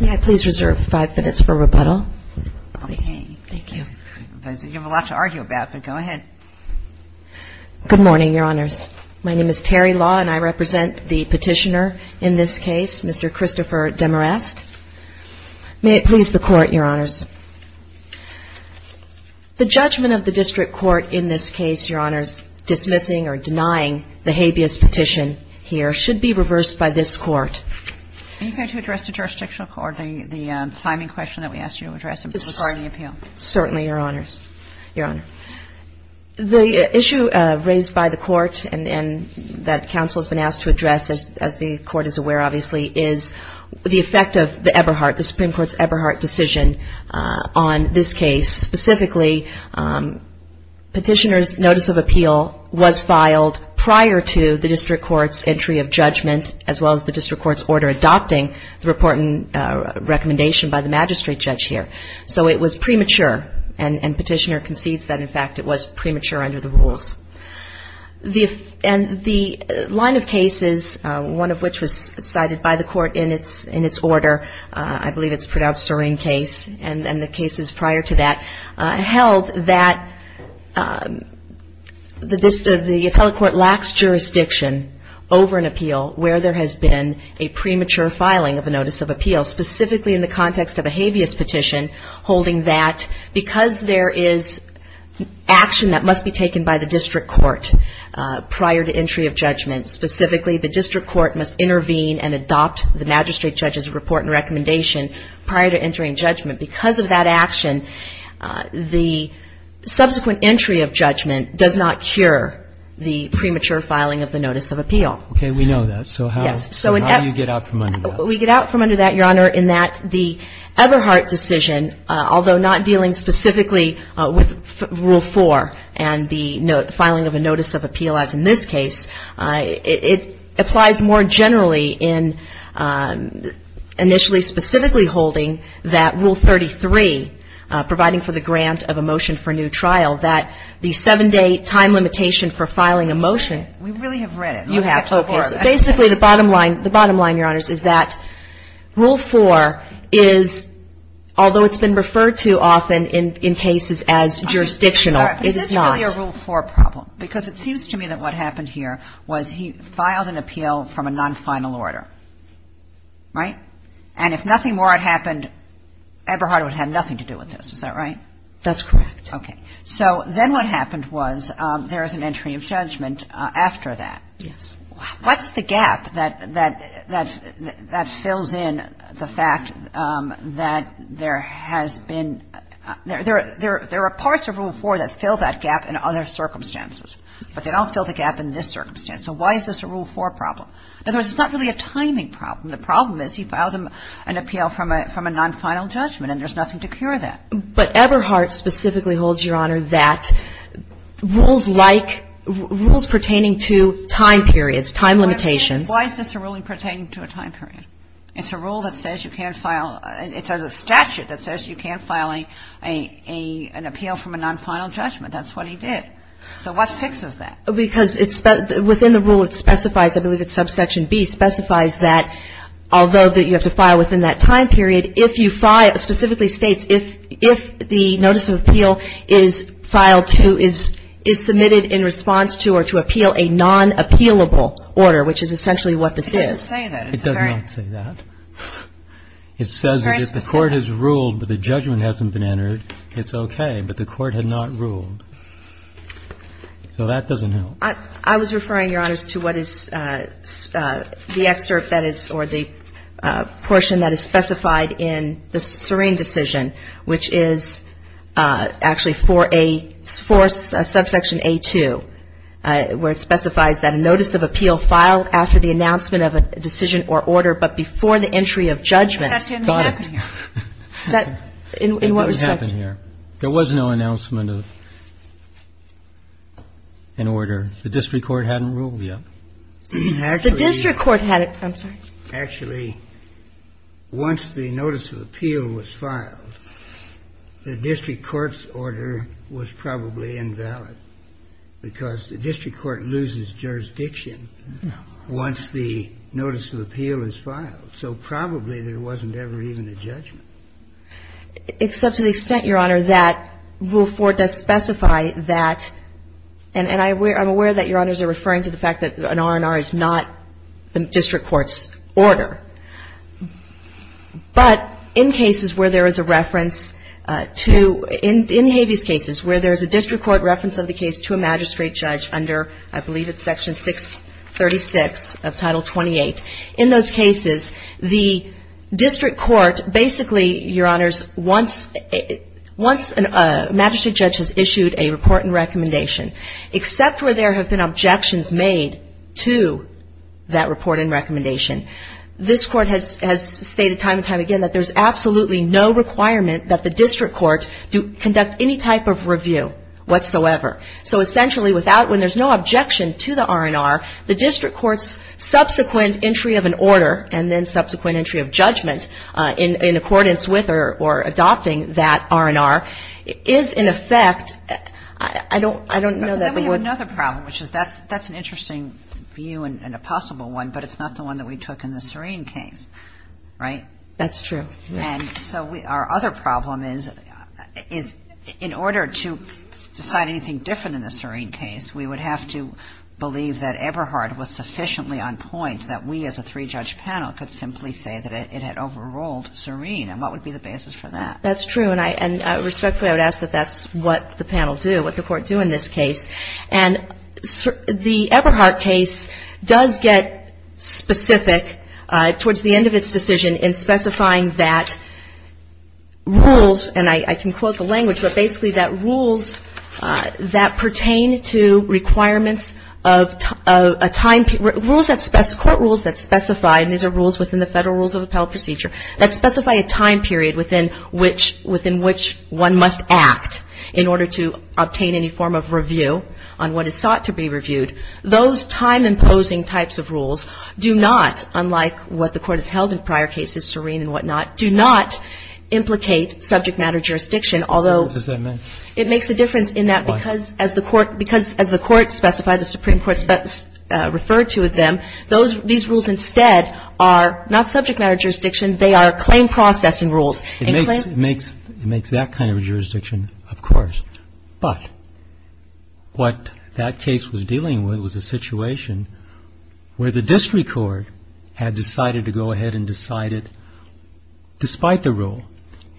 May I please reserve five minutes for rebuttal? Please. Okay. Thank you. You have a lot to argue about, but go ahead. Good morning, Your Honors. My name is Terry Law, and I represent the petitioner in this case, Mr. Christopher Demorest. May it please the Court, Your Honors. The judgment of the district court in this case, Your Honors, dismissing or denying the habeas petition here, should be reversed by this Court. Are you prepared to address the jurisdictional court the timing question that we asked you to address regarding the appeal? Certainly, Your Honors. Your Honor, the issue raised by the Court and that counsel has been asked to address, as the Court is aware, obviously, is the effect of the Eberhardt, the Supreme Court's Eberhardt decision on this case. Specifically, petitioner's notice of appeal was filed prior to the district court's entry of judgment as well as the district court's order adopting the report and recommendation by the magistrate judge here. So it was premature, and petitioner concedes that, in fact, it was premature under the rules. And the line of cases, one of which was cited by the Court in its order, I believe it's pronounced serene case, and the cases prior to that held that the appellate court lacks jurisdiction over an appeal where there has been a premature filing of a notice of appeal, specifically in the context of a habeas petition holding that because there is action that must be taken by the district court prior to entry of judgment, specifically the district court must intervene and adopt the magistrate judge's report and recommendation prior to entering judgment. Because of that action, the subsequent entry of judgment does not cure the premature filing of the notice of appeal. Okay. We know that. So how do you get out from under that? We get out from under that, Your Honor, in that the Eberhardt decision, although not dealing specifically with Rule 4 and the filing of a notice of appeal as in this case, it applies more generally in initially specifically holding that Rule 33, providing for the grant of a motion for new trial, that the 7-day time limitation for filing a motion. We really have read it. You have. Basically, the bottom line, Your Honors, is that Rule 4 is, although it's been referred to often in cases as jurisdictional, it is not. It's really a Rule 4 problem because it seems to me that what happened here was he filed an appeal from a non-final order. Right? And if nothing more had happened, Eberhardt would have nothing to do with this. Is that right? That's correct. Okay. So then what happened was there is an entry of judgment after that. Yes. What's the gap that fills in the fact that there has been — there are parts of Rule 4 that fill that gap in other circumstances, but they don't fill the gap in this circumstance. So why is this a Rule 4 problem? In other words, it's not really a timing problem. The problem is he filed an appeal from a non-final judgment, and there's nothing to cure that. But Eberhardt specifically holds, Your Honor, that rules like — rules pertaining to time periods, time limitations — Why is this a ruling pertaining to a time period? It's a rule that says you can't file — it's a statute that says you can't file an appeal from a non-final judgment. That's what he did. So what fixes that? Because it's — within the rule it specifies, I believe it's subsection B, specifies that although that you have to file within that time period, if you file — it specifically states if the notice of appeal is filed to — is submitted in response to or to appeal a non-appealable order, which is essentially what this is. It doesn't say that. It does not say that. It says that if the court has ruled but the judgment hasn't been entered, it's okay. But the court had not ruled. So that doesn't help. I was referring, Your Honor, to what is the excerpt that is — or the portion that is specified in the Serene decision, which is actually for a — for a subsection A-2, where it specifies that a notice of appeal filed after the announcement of a decision or order but before the entry of judgment. That didn't happen here. Got it. In what respect? It didn't happen here. There was no announcement of an order. The district court hadn't ruled yet. Actually — The district court had it. I'm sorry. Actually, once the notice of appeal was filed, the district court's order was probably invalid because the district court loses jurisdiction once the notice of appeal is filed. So probably there wasn't ever even a judgment. Except to the extent, Your Honor, that Rule 4 does specify that — and I'm aware that Your Honors are referring to the fact that an R&R is not the district court's order. But in cases where there is a reference to — in Habeas cases where there is a district court reference of the case to a magistrate judge under, I believe it's Section 636 of Title 28, in those cases, the district court basically, Your Honors, once a magistrate judge has issued a report and recommendation, except where there have been objections made to that report and recommendation, this court has stated time and time again that there's absolutely no requirement that the district court conduct any type of review whatsoever. So essentially, when there's no objection to the R&R, the district court's subsequent entry of an order and then subsequent entry of judgment in accordance with or adopting that R&R is, in effect — I don't know that — But then we have another problem, which is that's an interesting view and a possible one, but it's not the one that we took in the Serene case. Right? That's true. And so our other problem is in order to decide anything different in the Serene case, we would have to believe that Eberhardt was sufficiently on point that we as a three-judge panel could simply say that it had overruled Serene. And what would be the basis for that? That's true. And I respectfully would ask that that's what the panel do, what the Court do in this case. And the Eberhardt case does get specific towards the end of its decision in specifying that rules — and I can quote the language — but basically that rules that pertain to requirements of a time — rules that — court rules that specify — and these are rules within the Federal Rules of Appellate Procedure — that specify a time period within which one must act in order to obtain any form of review on what is sought to be reviewed. Those time-imposing types of rules do not, unlike what the Court has held in prior cases, Serene and whatnot, do not implicate subject-matter jurisdiction, although — What does that mean? It makes a difference in that because as the Court specified, the Supreme Court referred to them, these rules instead are not subject-matter jurisdiction. They are claim-processing rules. It makes that kind of jurisdiction, of course. But what that case was dealing with was a situation where the district court had decided to go ahead and decide it despite the rule,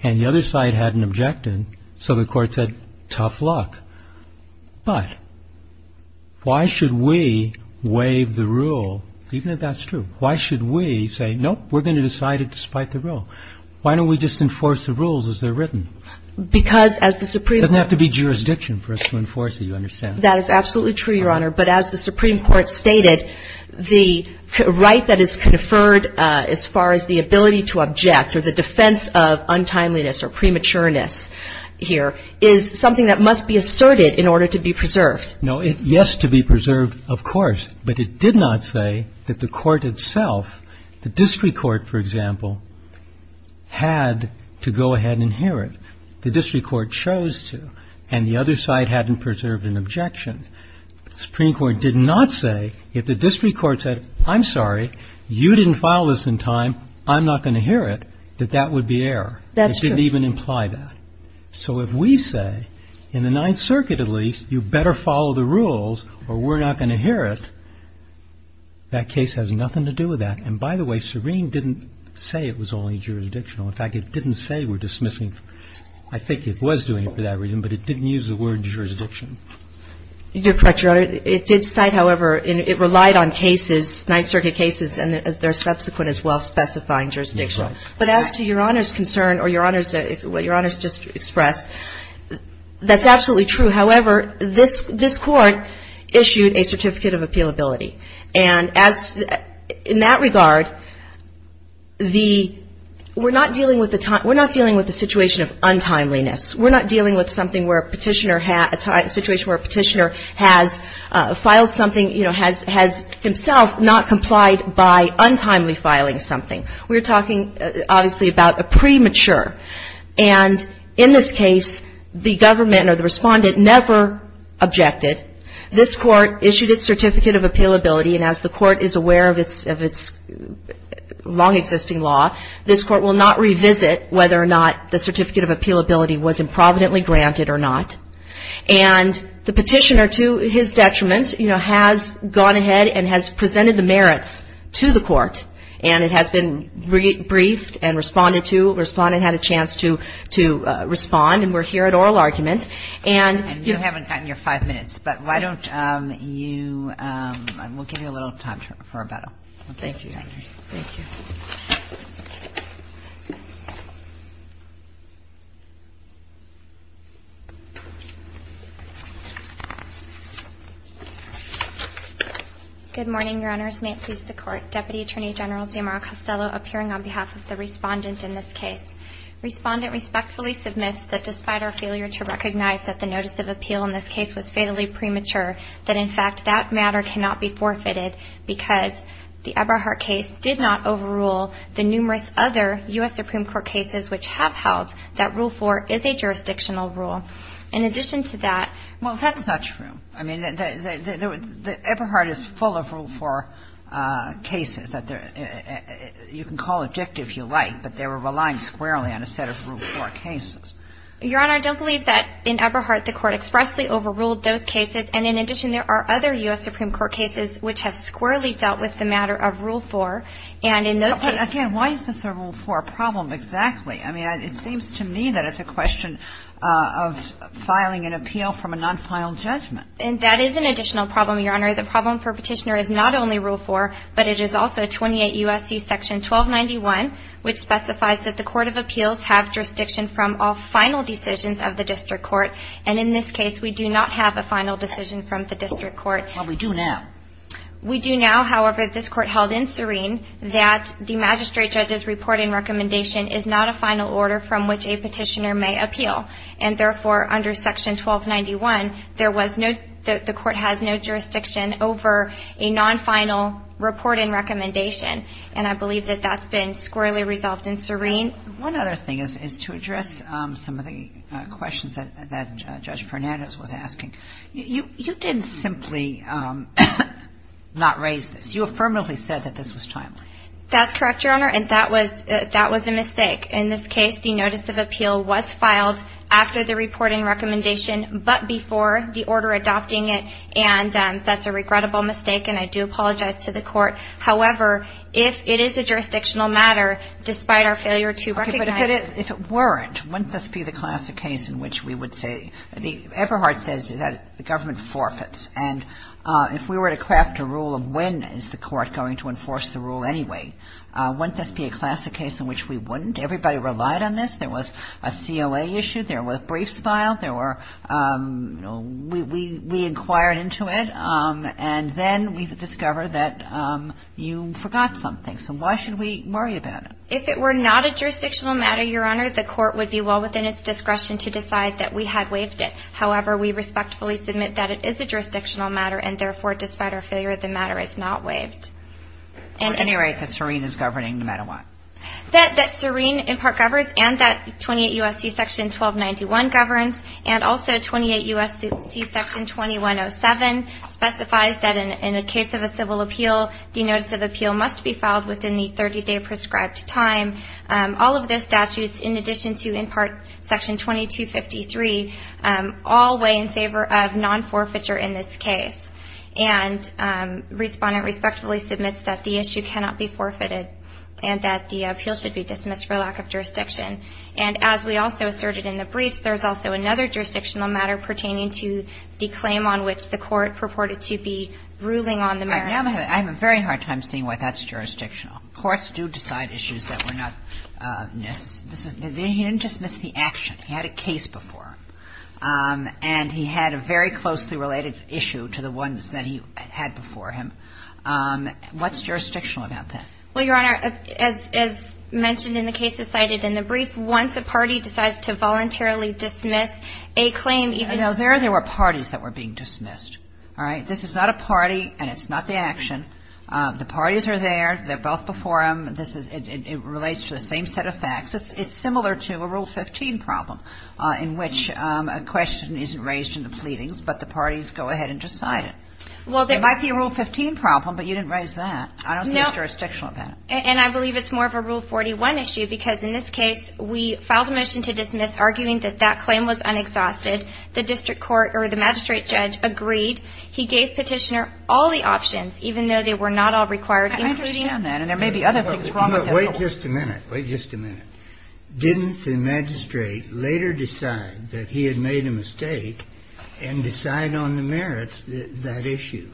and the other side hadn't objected, so the Court said, tough luck. But why should we waive the rule, even if that's true? Why should we say, nope, we're going to decide it despite the rule? Why don't we just enforce the rules as they're written? Because as the Supreme Court — It doesn't have to be jurisdiction for us to enforce it. You understand? That is absolutely true, Your Honor. But as the Supreme Court stated, the right that is conferred as far as the ability to object or the defense of untimeliness or prematureness here is something that must be asserted in order to be preserved. Yes, to be preserved, of course. But it did not say that the court itself, the district court, for example, had to go ahead and hear it. The district court chose to, and the other side hadn't preserved an objection. The Supreme Court did not say, if the district court said, I'm sorry, you didn't file this in time, I'm not going to hear it, that that would be error. That's true. It didn't even imply that. So if we say, in the Ninth Circuit at least, you better follow the rules or we're not going to hear it, that case has nothing to do with that. And by the way, Serene didn't say it was only jurisdictional. In fact, it didn't say we're dismissing. I think it was doing it for that reason, but it didn't use the word jurisdiction. You're correct, Your Honor. It did cite, however, it relied on cases, Ninth Circuit cases, and their subsequent as well specifying jurisdiction. That's right. But as to Your Honor's concern or Your Honor's, what Your Honor's just expressed, that's absolutely true. However, this Court issued a certificate of appealability. And as, in that regard, the, we're not dealing with the, we're not dealing with the situation of untimeliness. We're not dealing with something where a Petitioner, a situation where a Petitioner has filed something, you know, has himself not complied by untimely filing something. We're talking, obviously, about a premature. And in this case, the government or the Respondent never objected. This Court issued its certificate of appealability, and as the Court is aware of its long-existing law, this Court will not revisit whether or not the certificate of appealability was improvidently granted or not. And the Petitioner, to his detriment, you know, has gone ahead and has presented the merits to the Court, and it has been briefed and responded to. The Respondent had a chance to respond, and we're here at oral argument. And you haven't gotten your five minutes, but why don't you, we'll give you a little time for rebuttal. Thank you. Thank you. Good morning, Your Honors. May it please the Court. Deputy Attorney General Zamora-Costello appearing on behalf of the Respondent in this case. Respondent respectfully submits that despite our failure to recognize that the notice of appeal in this case was fatally premature, that in fact that matter cannot be forfeited because the Eberhardt case did not overrule the numerous other U.S. Supreme Court cases which have held that Rule 4 is a jurisdictional rule. In addition to that ---- Well, that's not true. I mean, the Eberhardt is full of Rule 4 cases that you can call addictive if you like, but they were relying squarely on a set of Rule 4 cases. Your Honor, I don't believe that in Eberhardt the Court expressly overruled those cases. And in addition, there are other U.S. Supreme Court cases which have squarely dealt with the matter of Rule 4. And in those cases ---- Again, why is this a Rule 4 problem exactly? I mean, it seems to me that it's a question of filing an appeal from a nonfinal judgment. And that is an additional problem, Your Honor. The problem for Petitioner is not only Rule 4, but it is also 28 U.S.C. Section 1291, which specifies that the court of appeals have jurisdiction from all final decisions of the district court. And in this case, we do not have a final decision from the district court. Well, we do now. We do now. However, this Court held in serene that the magistrate judge's reporting recommendation is not a final order from which a petitioner may appeal. And therefore, under Section 1291, there was no ---- the court has no jurisdiction over a nonfinal reporting recommendation. And I believe that that's been squarely resolved in serene. One other thing is to address some of the questions that Judge Fernandez was asking. You didn't simply not raise this. You affirmatively said that this was timely. That's correct, Your Honor. And that was a mistake. In this case, the notice of appeal was filed after the reporting recommendation, but before the order adopting it. And that's a regrettable mistake, and I do apologize to the court. However, if it is a jurisdictional matter, despite our failure to recognize ---- Okay, but if it weren't, wouldn't this be the classic case in which we would say ---- Eberhard says that the government forfeits. And if we were to craft a rule of when is the court going to enforce the rule anyway, wouldn't this be a classic case in which we wouldn't? Everybody relied on this. There was a COA issue. There were briefs filed. There were ---- We inquired into it. And then we discovered that you forgot something. So why should we worry about it? If it were not a jurisdictional matter, Your Honor, the court would be well within its discretion to decide that we had waived it. However, we respectfully submit that it is a jurisdictional matter, and therefore, despite our failure, the matter is not waived. At any rate, the serene is governing no matter what. That serene in part governs and that 28 U.S.C. Section 1291 governs and also 28 U.S.C. Section 2107 specifies that in a case of a civil appeal, the notice of appeal must be filed within the 30-day prescribed time. All of those statutes, in addition to in part Section 2253, all weigh in favor of non-forfeiture in this case. And Respondent respectfully submits that the issue cannot be forfeited and that the appeal should be dismissed for lack of jurisdiction. And as we also asserted in the briefs, there's also another jurisdictional matter pertaining to the claim on which the court purported to be ruling on the merits. Kagan. I have a very hard time seeing why that's jurisdictional. Courts do decide issues that were not necessary. He didn't dismiss the action. He had a case before him. And he had a very closely related issue to the ones that he had before him. What's jurisdictional about that? Well, Your Honor, as mentioned in the cases cited in the brief, once a party decides to voluntarily dismiss a claim even — No. There, there were parties that were being dismissed. All right? This is not a party and it's not the action. The parties are there. They're both before him. This is — it relates to the same set of facts. It's similar to a Rule 15 problem in which a question isn't raised in the pleadings, but the parties go ahead and decide it. Well, there — It might be a Rule 15 problem, but you didn't raise that. I don't see what's jurisdictional about it. No. And I believe it's more of a Rule 41 issue, because in this case, we filed a motion to dismiss, arguing that that claim was unexhausted. The district court or the magistrate judge agreed. He gave Petitioner all the options, even though they were not all required, including — I understand that. And there may be other things wrong with this. No. Wait just a minute. Didn't the magistrate later decide that he had made a mistake and decide on the merits that issue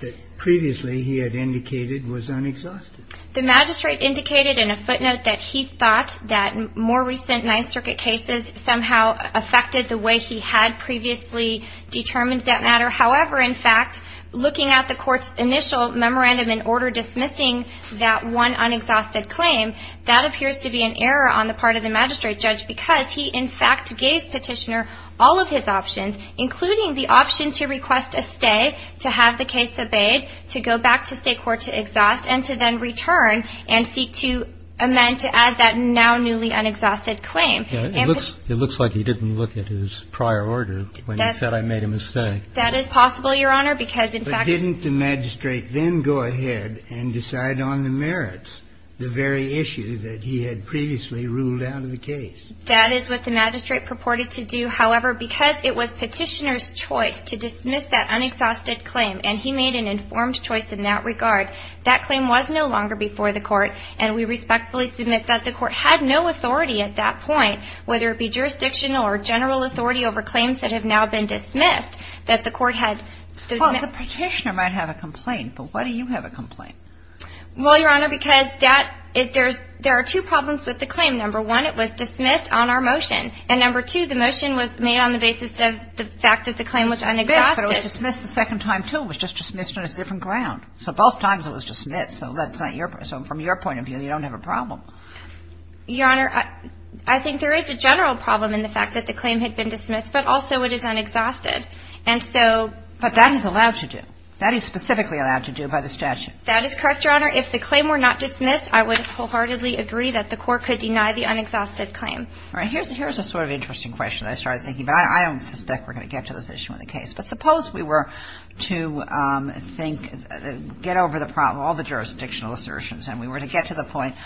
that previously he had indicated was unexhausted? The magistrate indicated in a footnote that he thought that more recent Ninth Circuit cases somehow affected the way he had previously determined that matter. However, in fact, looking at the court's initial memorandum in order dismissing that one unexhausted claim, that appears to be an error on the part of the magistrate judge, because he, in fact, gave Petitioner all of his options, including the option to request a stay, to have the case obeyed, to go back to state court to exhaust, and to then return and seek to amend to add that now newly unexhausted claim. It looks like he didn't look at his prior order when he said, I made a mistake. That is possible, Your Honor, because, in fact — But didn't the magistrate then go ahead and decide on the merits, the very issue that he had previously ruled out in the case? That is what the magistrate purported to do. However, because it was Petitioner's choice to dismiss that unexhausted claim, and he made an informed choice in that regard, that claim was no longer before the court, and we respectfully submit that the court had no authority at that point, whether it be jurisdictional or general authority over claims that have now been dismissed, that the court had — Well, the Petitioner might have a complaint, but why do you have a complaint? Well, Your Honor, because that — there are two problems with the claim. Number one, it was dismissed on our motion. And number two, the motion was made on the basis of the fact that the claim was unexhausted. It was dismissed the second time, too. It was just dismissed on a different ground. So both times it was dismissed. So that's not your — so from your point of view, you don't have a problem. Your Honor, I think there is a general problem in the fact that the claim had been dismissed, but also it is unexhausted. And so — But that is allowed to do. That is specifically allowed to do by the statute. That is correct, Your Honor. If the claim were not dismissed, I would wholeheartedly agree that the court could deny the unexhausted claim. All right. Here's a sort of interesting question that I started thinking about. I don't suspect we're going to get to this issue in the case. But suppose we were to think — get over the problem, all the jurisdictional assertions, and we were to get to the point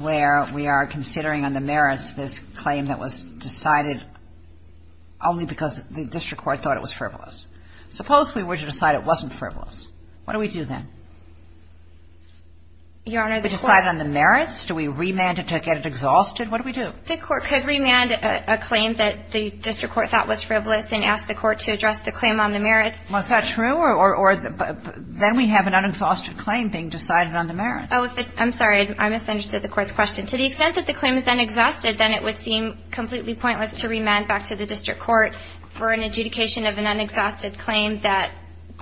where we are considering on the merits this claim that was decided only because the district court thought it was frivolous. Suppose we were to decide it wasn't frivolous. What do we do then? Your Honor, the court — We decide on the merits? Do we remand it to get it exhausted? What do we do? The court could remand a claim that the district court thought was frivolous and ask the court to address the claim on the merits. Well, is that true? Or then we have an unexhausted claim being decided on the merits. Oh, if it's — I'm sorry. I misunderstood the Court's question. To the extent that the claim is unexhausted, then it would seem completely pointless to remand back to the district court for an adjudication of an unexhausted claim that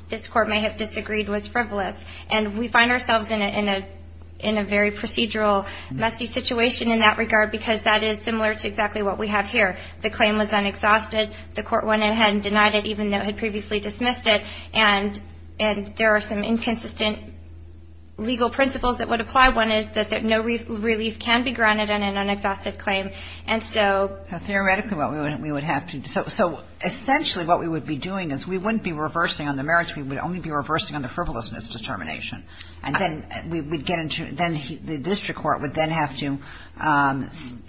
this court may have disagreed was frivolous. And we find ourselves in a — in a very procedural, messy situation in that regard because that is similar to exactly what we have here. The claim was unexhausted. The court went ahead and denied it, even though it had previously dismissed it. And there are some inconsistent legal principles that would apply. One is that no relief can be granted on an unexhausted claim. And so — So basically what we would be doing is we wouldn't be reversing on the merits. We would only be reversing on the frivolousness determination. And then we'd get into — then the district court would then have to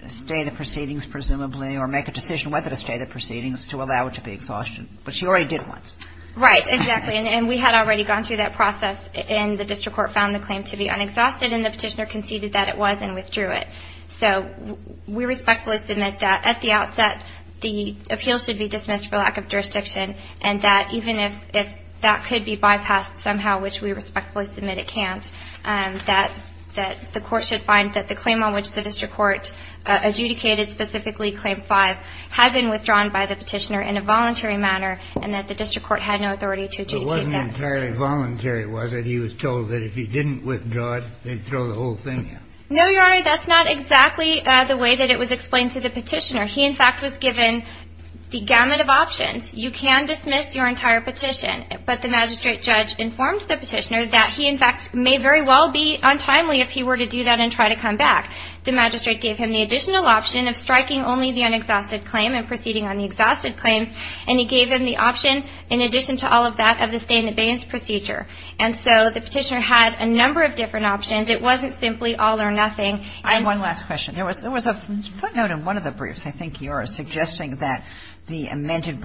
stay the proceedings, presumably, or make a decision whether to stay the proceedings to allow it to be exhausted. But she already did once. Right. Exactly. And we had already gone through that process, and the district court found the claim to be unexhausted, and the petitioner conceded that it was and withdrew it. So we respectfully submit that at the outset the appeal should be dismissed for lack of jurisdiction and that even if that could be bypassed somehow, which we respectfully submit it can't, that the court should find that the claim on which the district court adjudicated specifically, Claim 5, had been withdrawn by the petitioner in a voluntary manner and that the district court had no authority to adjudicate that. But it wasn't entirely voluntary, was it? He was told that if he didn't withdraw it, they'd throw the whole thing out. No, Your Honor. That's not exactly the way that it was explained to the petitioner. He, in fact, was given the gamut of options. You can dismiss your entire petition, but the magistrate judge informed the petitioner that he, in fact, may very well be untimely if he were to do that and try to come back. The magistrate gave him the additional option of striking only the unexhausted claim and proceeding on the exhausted claims, and he gave him the option, in addition to all of that, of the stay-in-the-bays procedure. And so the petitioner had a number of different options. It wasn't simply all or nothing. And one last question. There was a footnote in one of the briefs, I think yours, suggesting that the amended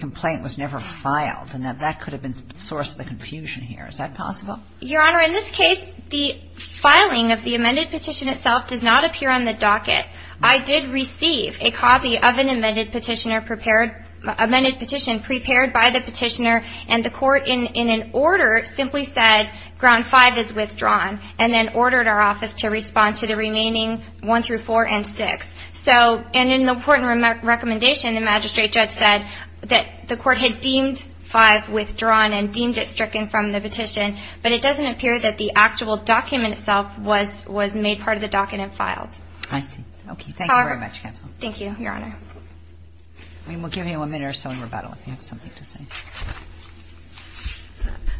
complaint was never filed and that that could have been the source of the confusion here. Is that possible? Your Honor, in this case, the filing of the amended petition itself does not appear on the docket. I did receive a copy of an amended petition prepared by the petitioner, and the court in an order simply said, ground five is withdrawn and then ordered our office to respond to the remaining one through four and six. So, and in the important recommendation, the magistrate judge said that the court had deemed five withdrawn and deemed it stricken from the petition, but it doesn't appear that the actual document itself was made part of the docket and filed. I see. Okay. Thank you very much, counsel. Thank you, Your Honor. We'll give you a minute or so in rebuttal if you have something to say.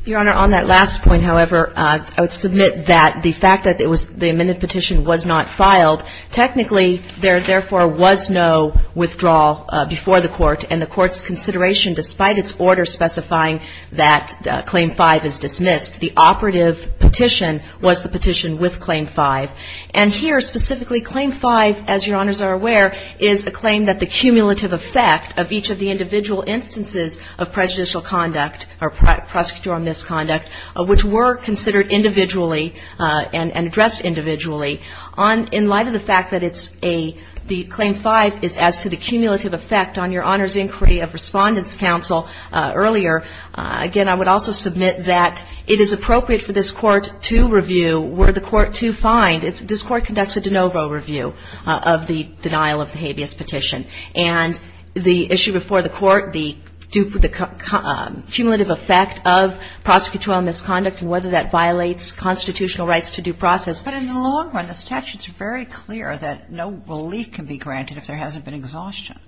Your Honor, on that last point, however, I would submit that the fact that the amended petition was not filed, technically, there, therefore, was no withdrawal before the court, and the court's consideration, despite its order specifying that claim five is dismissed, the operative petition was the petition with claim five. And here, specifically, claim five, as Your Honors are aware, is a claim that the cumulative effect of each of the individual instances of prejudicial conduct or prosecutorial misconduct, which were considered individually and addressed individually. In light of the fact that it's a, the claim five is as to the cumulative effect on Your Honor's inquiry of respondent's counsel earlier, again, I would also submit that it is appropriate for this court to review, were the court to find, this court conducts a de novo review of the denial of the habeas petition. And the issue before the court, the cumulative effect of prosecutorial misconduct and whether that violates constitutional rights to due process. But in the long run, the statute's very clear that no relief can be granted if there hasn't been exhaustion.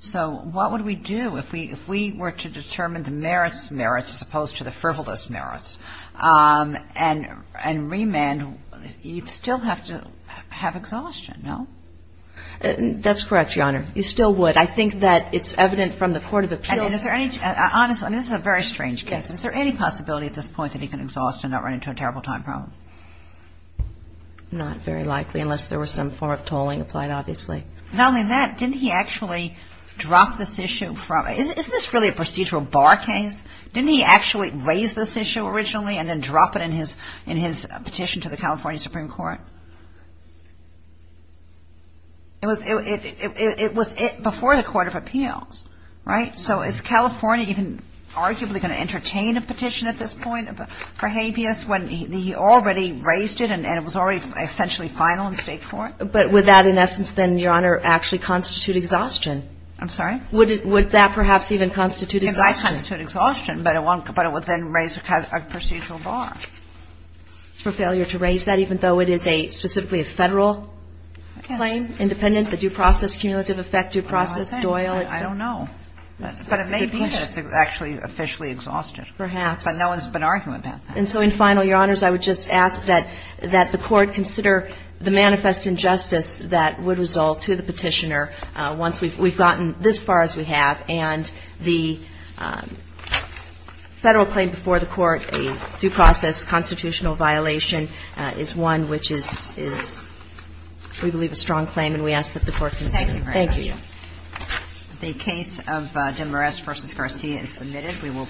So what would we do if we were to determine the merits merits as opposed to the frivolous merits, and remand, you'd still have to have exhaustion, no? That's correct, Your Honor. You still would. I think that it's evident from the court of appeals. And is there any, honestly, this is a very strange case. Is there any possibility at this point that he can exhaust and not run into a terrible time problem? Not very likely, unless there was some form of tolling applied, obviously. Not only that, didn't he actually drop this issue from, isn't this really a procedural bar case? Didn't he actually raise this issue originally and then drop it in his petition to the California Supreme Court? It was before the court of appeals, right? So is California even arguably going to entertain a petition at this point for habeas when he already raised it and it was already essentially final in State court? But would that, in essence, then, Your Honor, actually constitute exhaustion? I'm sorry? Would that perhaps even constitute exhaustion? It might constitute exhaustion, but it would then raise a procedural bar. For failure to raise that, even though it is specifically a Federal claim, independent, the due process, cumulative effect, due process, Doyle? I don't know. But it may be that it's actually officially exhausted. Perhaps. But no one's been arguing about that. And so in final, Your Honors, I would just ask that the court consider the manifest injustice that would result to the petitioner once we've gotten this far as we have and the Federal claim before the court, a due process constitutional violation, is one which is, we believe, a strong claim and we ask that the court consider it. Thank you, Your Honor. Thank you. The case of Demarest v. Garcia is submitted.